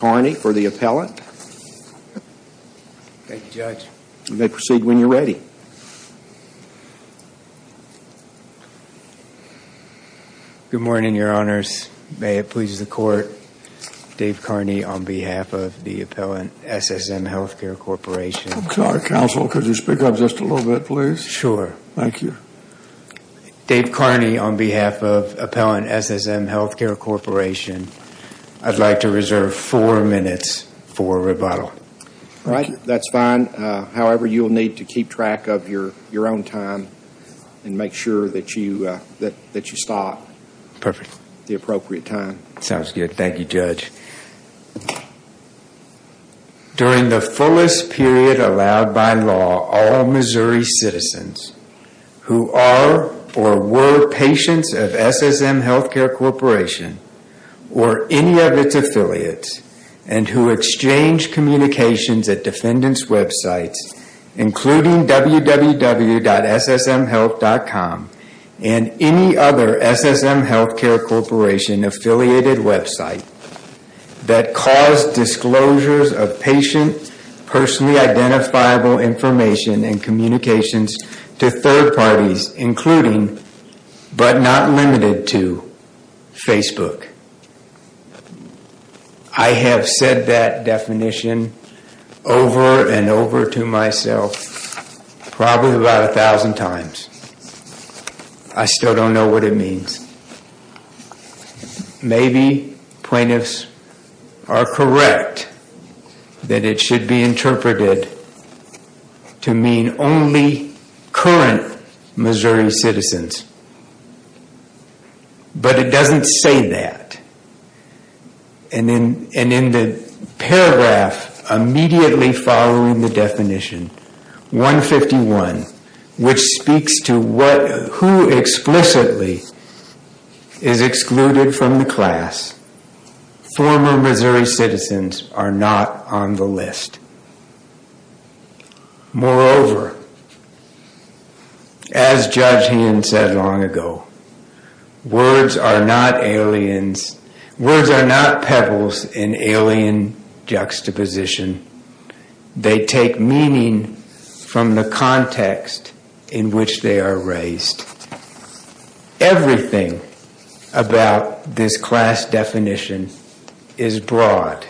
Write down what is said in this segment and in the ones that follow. Dave Kearney on behalf of the Appellant SSM Health Care Corporation, I would like to reserve four minutes for rebuttal. During the fullest period allowed by law, all Missouri citizens who are or were patients of SSM Health Care Corporation or any of its affiliates and who exchange communications at defendants websites including www.ssmhealth.com and any other SSM Health Care Corporation affiliated website that cause disclosures of patient personally identifiable information and communications to third parties including but not limited to Facebook. I have said that definition over and over to myself probably about a thousand times. I still don't know what it means. Maybe plaintiffs are correct that it should be interpreted to mean only current Missouri citizens but it doesn't say that and in the paragraph immediately following the definition 151 which speaks to who explicitly is excluded from the class, former Missouri citizens are not on the list. Moreover, as Judge Heon said long ago, words are not pebbles in alien juxtaposition. They take meaning from the context in which they are raised. Everything about this class definition is broad.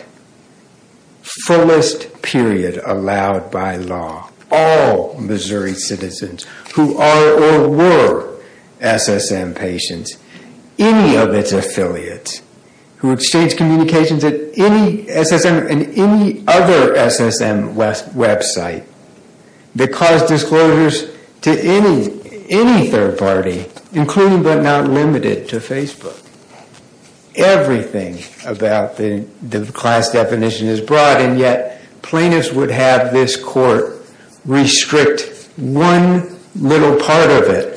Fullest period allowed by law, all Missouri citizens who are or were SSM patients, any of its affiliates who exchange communications at any SSM and any other SSM website that cause disclosures to any third party including but not limited to Facebook. Everything about the class definition is broad and yet plaintiffs would have this court restrict one little part of it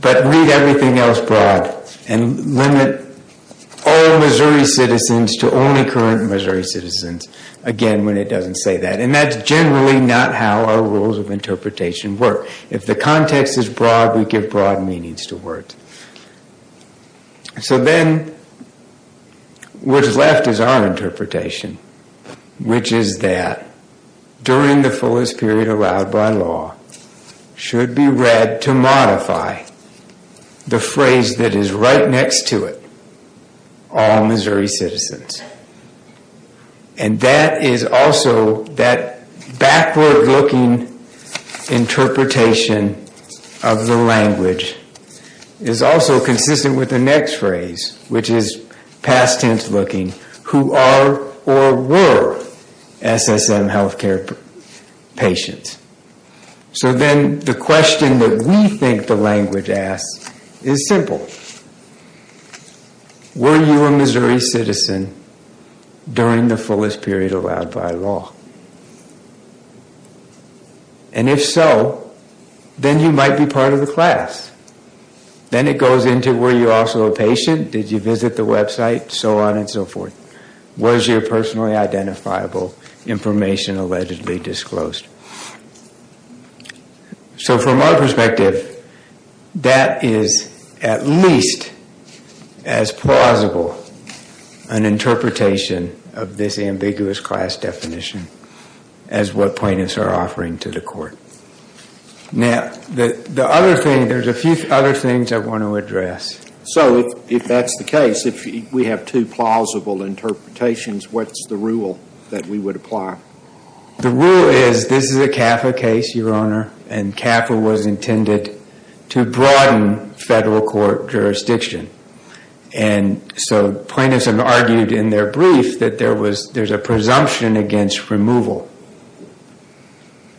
but read everything else broad and limit all Missouri citizens to only current Missouri citizens again when it doesn't say that and that's generally not how our rules of interpretation work. If the context is broad we give broad meanings to words. So then what's left is our interpretation which is that during the fullest period allowed by law should be read to modify the phrase that is right next to it, all Missouri citizens. And that is also that backward looking interpretation of the language is also consistent with the next phrase which is past tense looking, who are or were SSM healthcare patients. So then the question that we think the language asks is simple, were you a Missouri citizen during the fullest period allowed by law? And if so, then you might be part of the class. Then it goes into were you also a patient? Did you visit the website? So on and so forth. Was your personally identifiable information allegedly disclosed? So from our perspective that is at least as plausible an interpretation of this ambiguous class definition as what plaintiffs are offering to the court. Now, the other thing, there's a few other things I want to address. So if that's the case, if we have two plausible interpretations, what's the rule that we would apply? The rule is this is a CAFA case, Your Honor, and CAFA was intended to broaden federal court jurisdiction. And so plaintiffs have argued in their brief that there's a presumption against removal.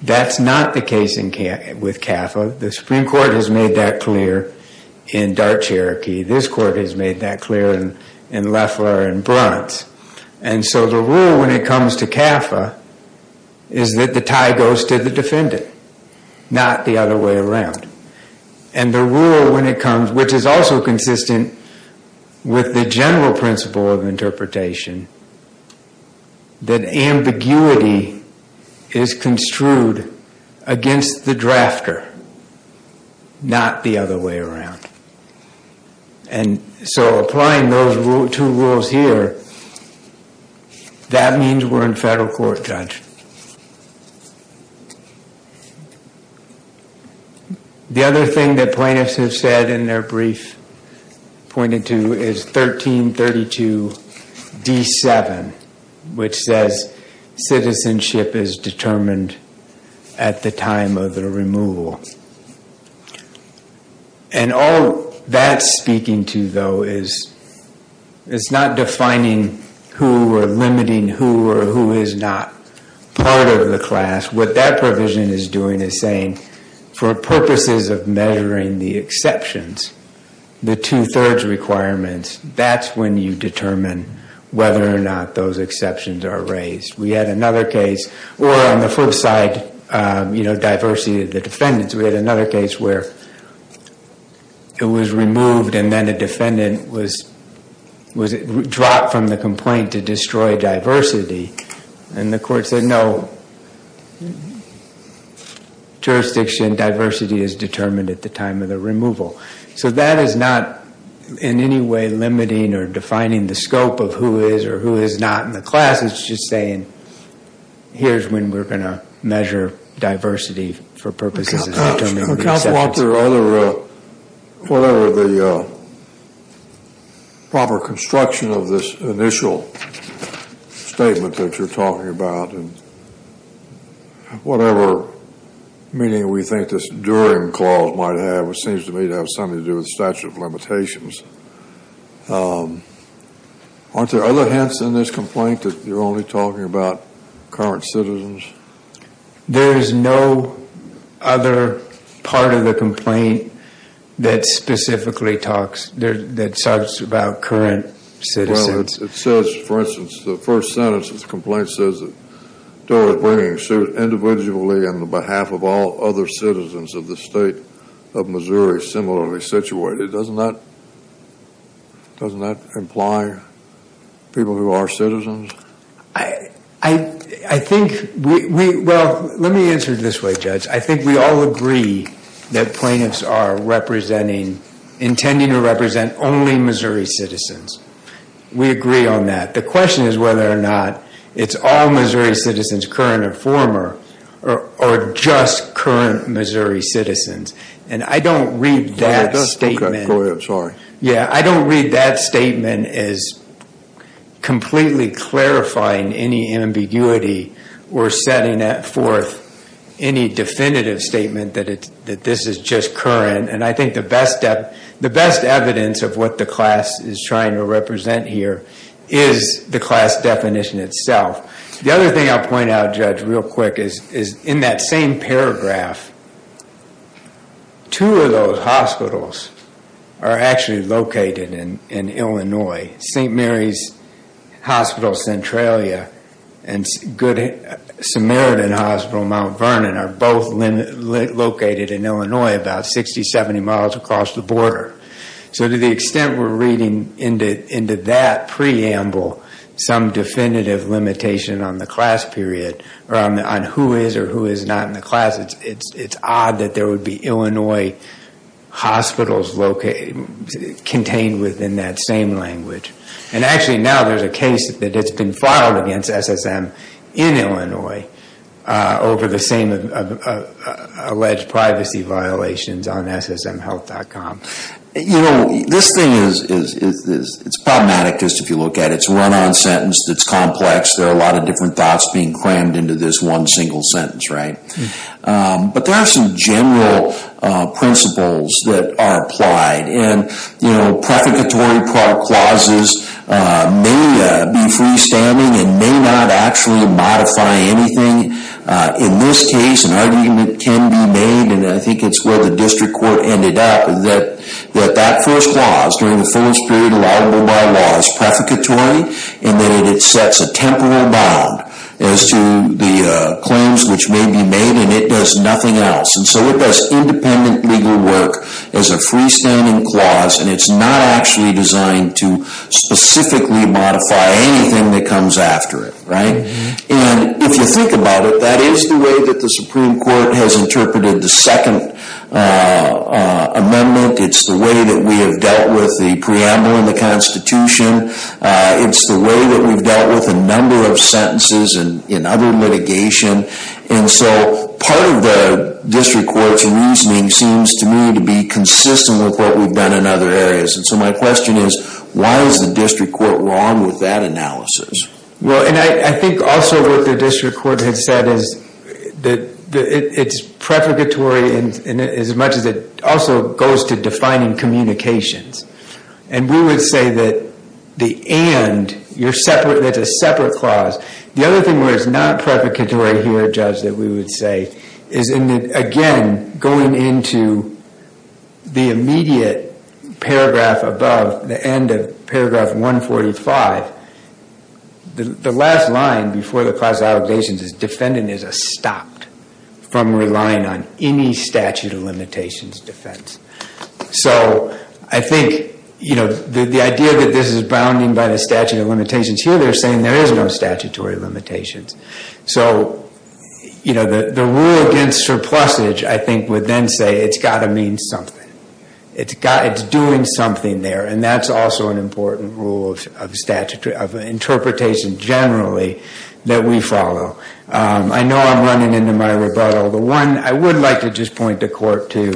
That's not the case with CAFA. The Supreme Court has made that clear in Dart, Cherokee. This court has made that clear in Leffler and Brunt. And so the rule when it comes to CAFA is that the tie goes to the defendant, not the other way around. And the rule when it comes, which is also consistent with the general principle of interpretation, that ambiguity is construed against the drafter, not the other way around. And so applying those two rules here, that means we're in federal court, Judge. The other thing that plaintiffs have said in their brief, pointed to, is 1332 DC. 7, which says citizenship is determined at the time of the removal. And all that's speaking to, though, is it's not defining who or limiting who or who is not part of the class. What that provision is doing is saying, for purposes of measuring the exceptions, the two-thirds requirements, that's when you determine whether or not those exceptions are raised. We had another case, or on the flip side, diversity of the defendants. We had another case where it was removed and then a defendant was dropped from the complaint to destroy diversity. And the court said, no, jurisdiction and diversity is determined at the time of the removal. So that is not in any way limiting or defining the scope of who is or who is not in the class. It's just saying, here's when we're going to measure diversity for purposes of determining the exceptions. Counsel, aren't there other, whatever the proper construction of this initial statement that you're talking about. And whatever meaning we think this during clause might have, which seems to me to have something to do with statute of limitations. Aren't there other hints in this complaint that you're only talking about current citizens? There is no other part of the complaint that specifically talks, that talks about current citizens. Well, it says, for instance, the first sentence of the complaint says that Dora is bringing suit individually on behalf of all other citizens of the state of Missouri similarly situated. Doesn't that imply people who are citizens? I think we, well, let me answer it this way, Judge. I think we all agree that plaintiffs are representing, intending to represent only Missouri citizens. We agree on that. The question is whether or not it's all Missouri citizens, current or former, or just current Missouri citizens. And I don't read that statement, yeah, I don't read that statement as completely clarifying any ambiguity or setting forth any definitive statement that this is just current. And I think the best evidence of what the class is trying to represent here is the class definition itself. The other thing I'll point out, Judge, real quick, is in that same paragraph, two of those hospitals are actually located in Illinois. St. Mary's Hospital, Centralia, and Good Samaritan Hospital, Mount Vernon, are both located in Illinois about 60, 70 miles across the border. So to the extent we're reading into that preamble some definitive limitation on the class period, or on who is or who is not in the class, it's odd that there would be Illinois hospitals contained within that same language. And actually now there's a case that it's been filed against SSM in Illinois over the same alleged privacy violations on SSMhealth.com. You know, this thing is problematic just if you look at it. It's a run-on sentence that's complex. There are a lot of different thoughts being crammed into this one single sentence, right? But there are some general principles that are applied. And, you know, prefiguratory clauses may be freestanding and may not actually modify anything. In this case, an argument can be made, and I think it's where the district court ended up, that that first clause, during the fullest period allowable by law, is prefiguratory in that it sets a temporal bound as to the claims which may be made, and it does nothing else. And so it does independent legal work as a freestanding clause, and it's not actually designed to specifically modify anything that comes after it, right? And if you think about it, that is the way that the Supreme Court has interpreted the second amendment. It's the way that we have dealt with the preamble in the Constitution. It's the way that we've dealt with a number of sentences in other litigation. And so part of the district court's reasoning seems to me to be consistent with what we've done in other areas. And so my question is, why is the district court wrong with that analysis? Well, and I think also what the district court had said is that it's prefiguratory as much as it also goes to defining communications. And we would say that the and, you're separate, that's a separate clause. The other thing where it's not prefiguratory here, Judge, that we would say is, again, going into the immediate paragraph above, the end of paragraph 145, the last line before the clause of allegations is defendant is stopped from relying on any statute of limitations defense. So I think the idea that this is bounding by the statute of limitations here, they're saying there is no statutory limitations. So the rule against surplusage, I think, would then say it's got to mean something. It's doing something there. And that's also an important rule of interpretation generally that we follow. I know I'm running into my rebuttal. I would like to just point the court to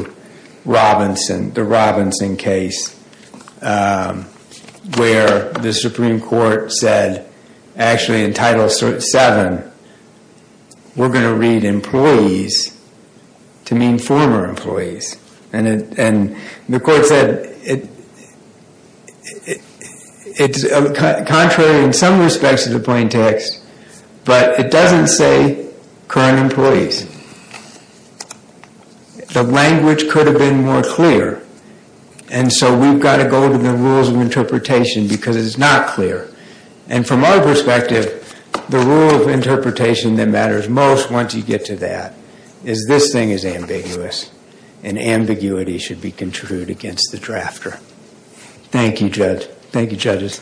the Robinson case where the Supreme Court said, actually, in Title VII, we're going to read employees to mean former employees. And the court said, it's contrary in some respects to the plain text, but it doesn't say current employees. The language could have been more clear. And so we've got to go to the rules of interpretation because it's not clear. And from our perspective, the rule of interpretation that matters most once you get to that is this thing is ambiguous, and ambiguity should be contrived against the Thank you, Judge. Thank you, judges.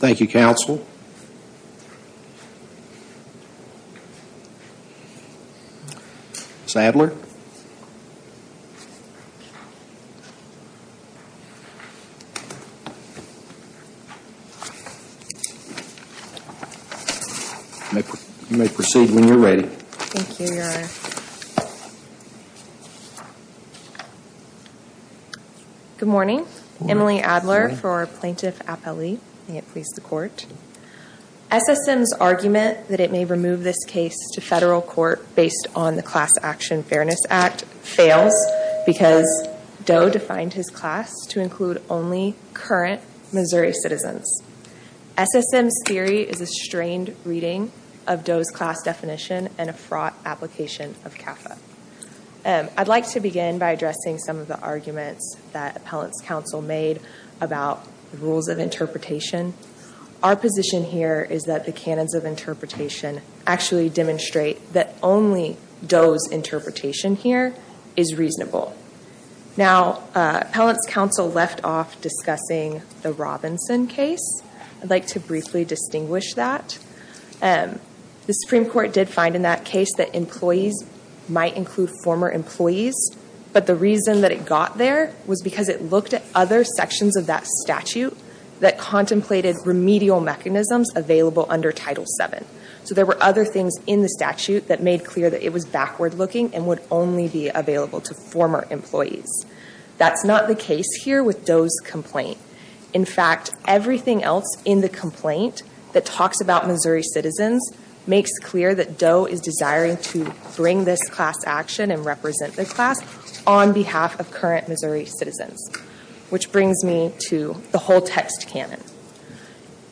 Thank you, counsel. You may proceed when you're ready. Thank you, Your Honor. Good morning. Emily Adler for plaintiff appellee. May it please the court. SSM's argument that it may remove this case to federal court based on the Class Action Fairness Act fails because Doe defined his class to include only current Missouri citizens. SSM's theory is a strained reading of Doe's class definition and a fraught application of CAFA. And I'd like to begin by addressing some of the arguments that appellant's counsel made about the rules of interpretation. Our position here is that the canons of interpretation actually demonstrate that only Doe's interpretation here is reasonable. Now, appellant's counsel left off discussing the Robinson case. I'd like to briefly distinguish that. And the Supreme Court did find in that case that employees might include former employees. But the reason that it got there was because it looked at other sections of that statute that contemplated remedial mechanisms available under Title VII. So there were other things in the statute that made clear that it was backward looking and would only be available to former employees. That's not the case here with Doe's complaint. In fact, everything else in the complaint that talks about Missouri citizens makes clear that Doe is desiring to bring this class action and represent the class on behalf of current Missouri citizens, which brings me to the whole text canon.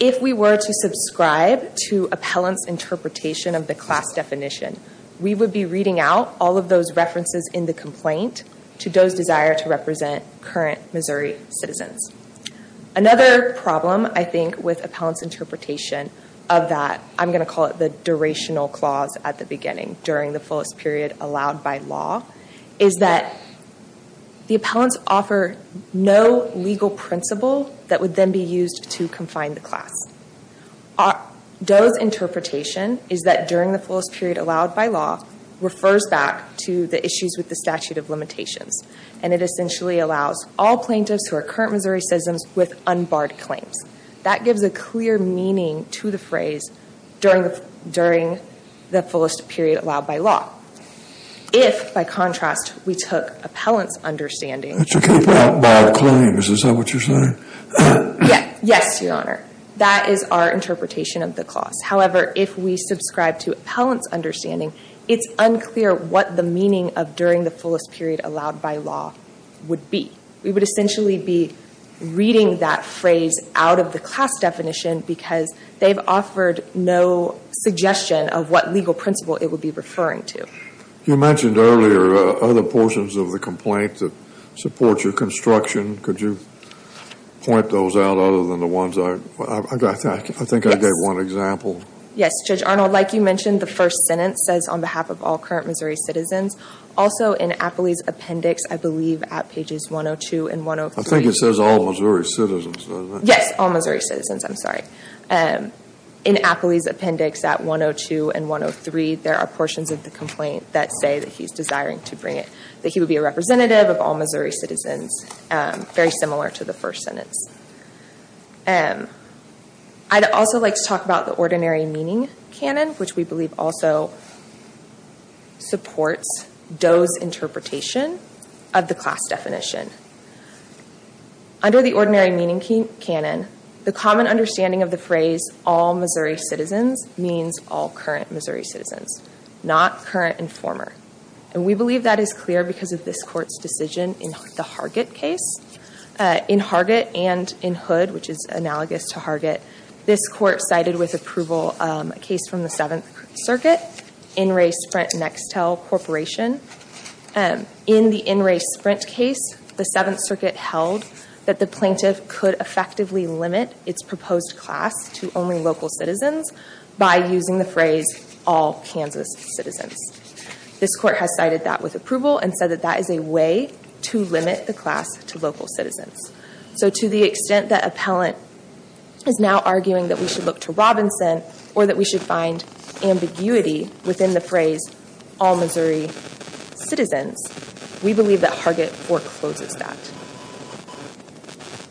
If we were to subscribe to appellant's interpretation of the class definition, we would be reading out all of those references in the complaint to Doe's desire to represent current Missouri citizens. Another problem, I think, with appellant's interpretation of that, I'm going to call it the durational clause at the beginning, during the fullest period allowed by law, is that the appellants offer no legal principle that would then be used to confine the class. Doe's interpretation is that during the fullest period allowed by law refers back to the issues with the statute of limitations. And it essentially allows all plaintiffs who are current Missouri citizens with unbarred claims. That gives a clear meaning to the phrase during the fullest period allowed by law. If, by contrast, we took appellant's understanding... That you can't bar claims, is that what you're saying? Yes, your honor. That is our interpretation of the clause. However, if we subscribe to appellant's understanding, it's unclear what the meaning of during the fullest period allowed by law would be. We would essentially be reading that phrase out of the class definition because they've offered no suggestion of what legal principle it would be referring to. You mentioned earlier other portions of the complaint that support your construction. Could you point those out other than the ones I... I think I gave one example. Yes, Judge Arnold. Like you mentioned, the first sentence says on behalf of all current Missouri citizens. Also in Apley's appendix, I believe at pages 102 and 103... I think it says all Missouri citizens, doesn't it? Yes, all Missouri citizens. I'm sorry. In Apley's appendix at 102 and 103, there are portions of the complaint that say that he's desiring to bring it. That he would be a representative of all Missouri citizens. Very similar to the first sentence. I'd also like to talk about the ordinary meaning canon, which we believe also supports Doe's interpretation of the class definition. Under the ordinary meaning canon, the common understanding of the phrase all Missouri citizens means all current Missouri citizens, not current and former. And we believe that is clear because of this court's decision in the Hargett case. In Hargett and in Hood, which is analogous to Hargett, this court cited with approval a case from the Seventh Circuit, In Re Sprint Nextel Corporation. In the In Re Sprint case, the Seventh Circuit held that the plaintiff could effectively limit its proposed class to only local citizens by using the phrase all Kansas citizens. This court has cited that with approval and said that that is a way to limit the class to local citizens. So to the extent that appellant is now arguing that we should look to Robinson or that we should find ambiguity within the phrase all Missouri citizens, we believe that Hargett forecloses that.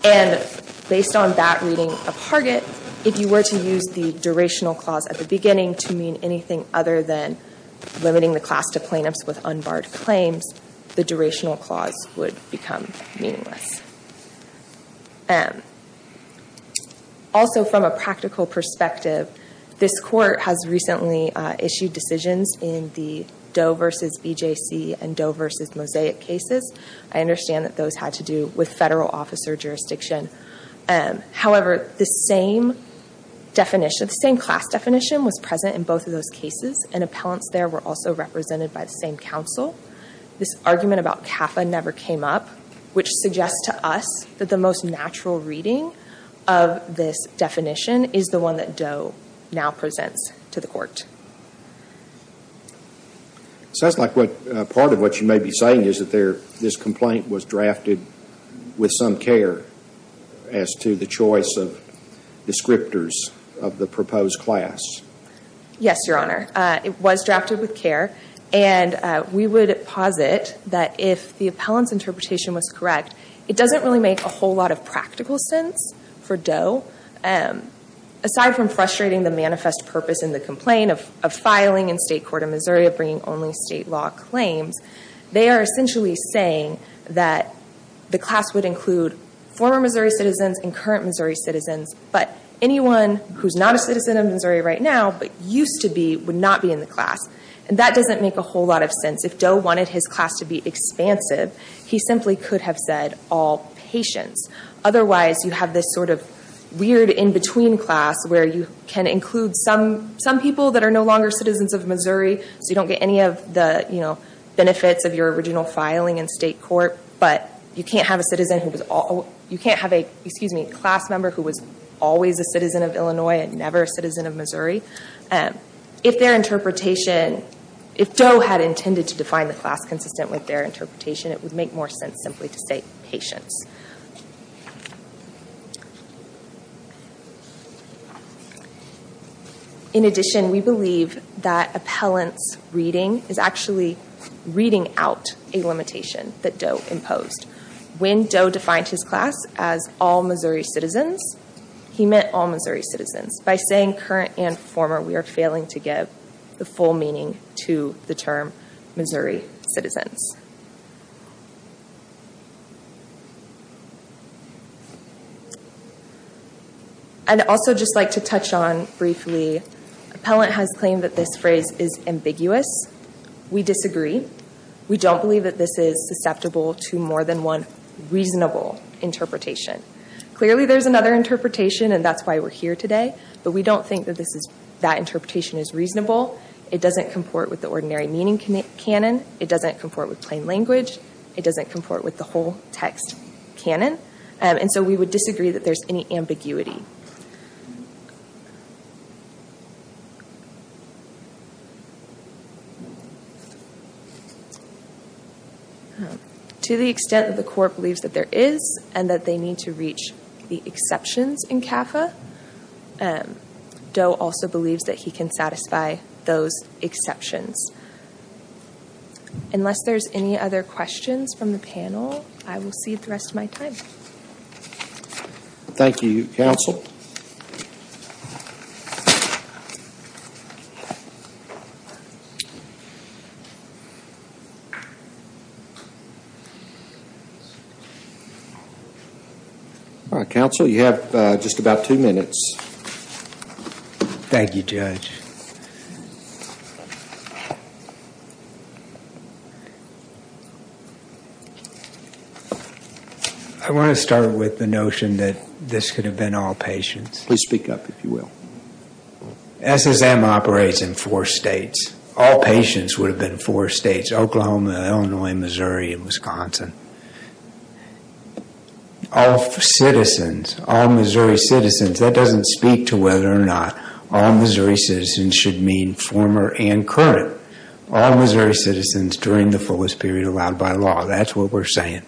And based on that reading of Hargett, if you were to use the durational clause at the beginning to mean anything other than limiting the class to plaintiffs with unbarred claims, the durational clause would become meaningless. Also from a practical perspective, this court has recently issued decisions in the Doe versus BJC and Doe versus Mosaic cases. I understand that those had to do with federal officer jurisdiction. However, the same definition, the same class definition was present in both of those cases and appellants there were also represented by the same counsel. This argument about CAFA never came up, which suggests to us that the most natural reading of this definition is the one that Doe now presents to the court. It sounds like part of what you may be saying is that this complaint was drafted with some care as to the choice of descriptors of the proposed class. Yes, Your Honor. It was drafted with care. And we would posit that if the appellant's interpretation was correct, it doesn't really make a whole lot of practical sense for Doe. Aside from frustrating the manifest purpose in the complaint of filing in state court of Missouri of bringing only state law claims, they are essentially saying that the class would include former Missouri citizens and current Missouri citizens. But anyone who's not a citizen of Missouri right now, but used to be, would not be in the class. And that doesn't make a whole lot of sense. If Doe wanted his class to be expansive, he simply could have said all patients. Otherwise, you have this sort of weird in-between class where you can include some people that are no longer citizens of Missouri, so you don't get any of the benefits of your original filing in state court. But you can't have a class member who was always a citizen of Illinois and never a citizen of Missouri. If Doe had intended to define the class consistent with their interpretation, it would make more sense simply to say patients. In addition, we believe that appellant's reading is actually reading out a limitation that Doe imposed. When Doe defined his class as all Missouri citizens, he meant all Missouri citizens. By saying current and former, we are failing to give the full meaning to the term Missouri citizens. I'd also just like to touch on briefly, appellant has claimed that this phrase is ambiguous. We disagree. We don't believe that this is susceptible to more than one reasonable interpretation. Clearly, there's another interpretation, and that's why we're here today. But we don't think that this is, that interpretation is reasonable. It doesn't comport with the ordinary meaning canon. It doesn't comport with the general meaning of the term. It doesn't comport with plain language. It doesn't comport with the whole text canon. We would disagree that there's any ambiguity. To the extent that the court believes that there is and that they need to reach the exceptions in CAFA, Doe also believes that he can satisfy those exceptions. Unless there's any other questions from the panel, I will cede the rest of my time. Thank you, counsel. All right, counsel, you have just about two minutes. Thank you, judge. I want to start with the notion that this could have been all patients. Please speak up, if you will. SSM operates in four states. All patients would have been four states, Oklahoma, Illinois, Missouri, and Wisconsin. All citizens, all Missouri citizens, that doesn't speak to whether or not all Missouri citizens should mean former and current. All Missouri citizens during the fullest period allowed by law. That's what we're saying.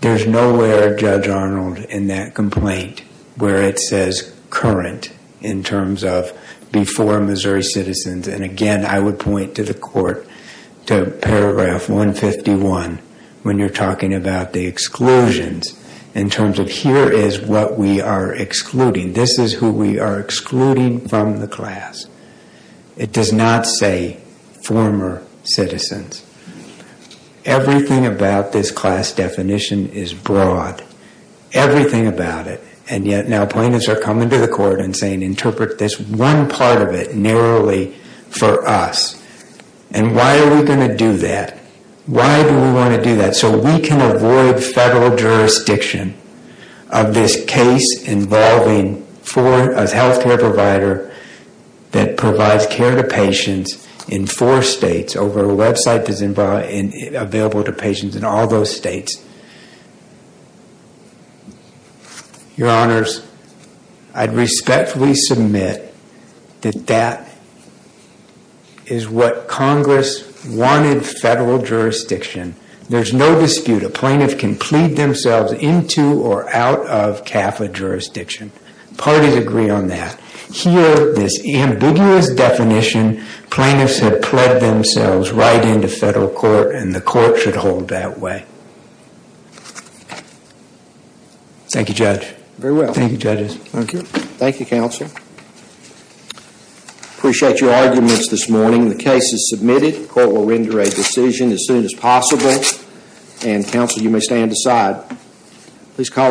There's nowhere, Judge Arnold, in that complaint where it says current in terms of before Missouri citizens. And again, I would point to the court to paragraph 151, when you're talking about the exclusions, in terms of here is what we are excluding. This is who we are excluding from the class. It does not say former citizens. Everything about this class definition is broad. Everything about it. And yet now plaintiffs are coming to the court and saying, interpret this one part of it narrowly for us. And why are we going to do that? Why do we want to do that? So we can avoid federal jurisdiction of this case involving a health care provider that provides care to patients in four states over a website that's available to patients in all those states. Your Honors, I'd respectfully submit that that is what Congress wanted federal jurisdiction. There's no dispute. A plaintiff can plead themselves into or out of CAFA jurisdiction. Parties agree on that. Here, this ambiguous definition, plaintiffs have pled themselves right into federal court, and the court should hold that way. Thank you, Judge. Very well. Thank you, judges. Thank you. Thank you, counsel. Appreciate your arguments this morning. The case is submitted. Court will render a decision as soon as possible. And counsel, you may stand aside. Please call.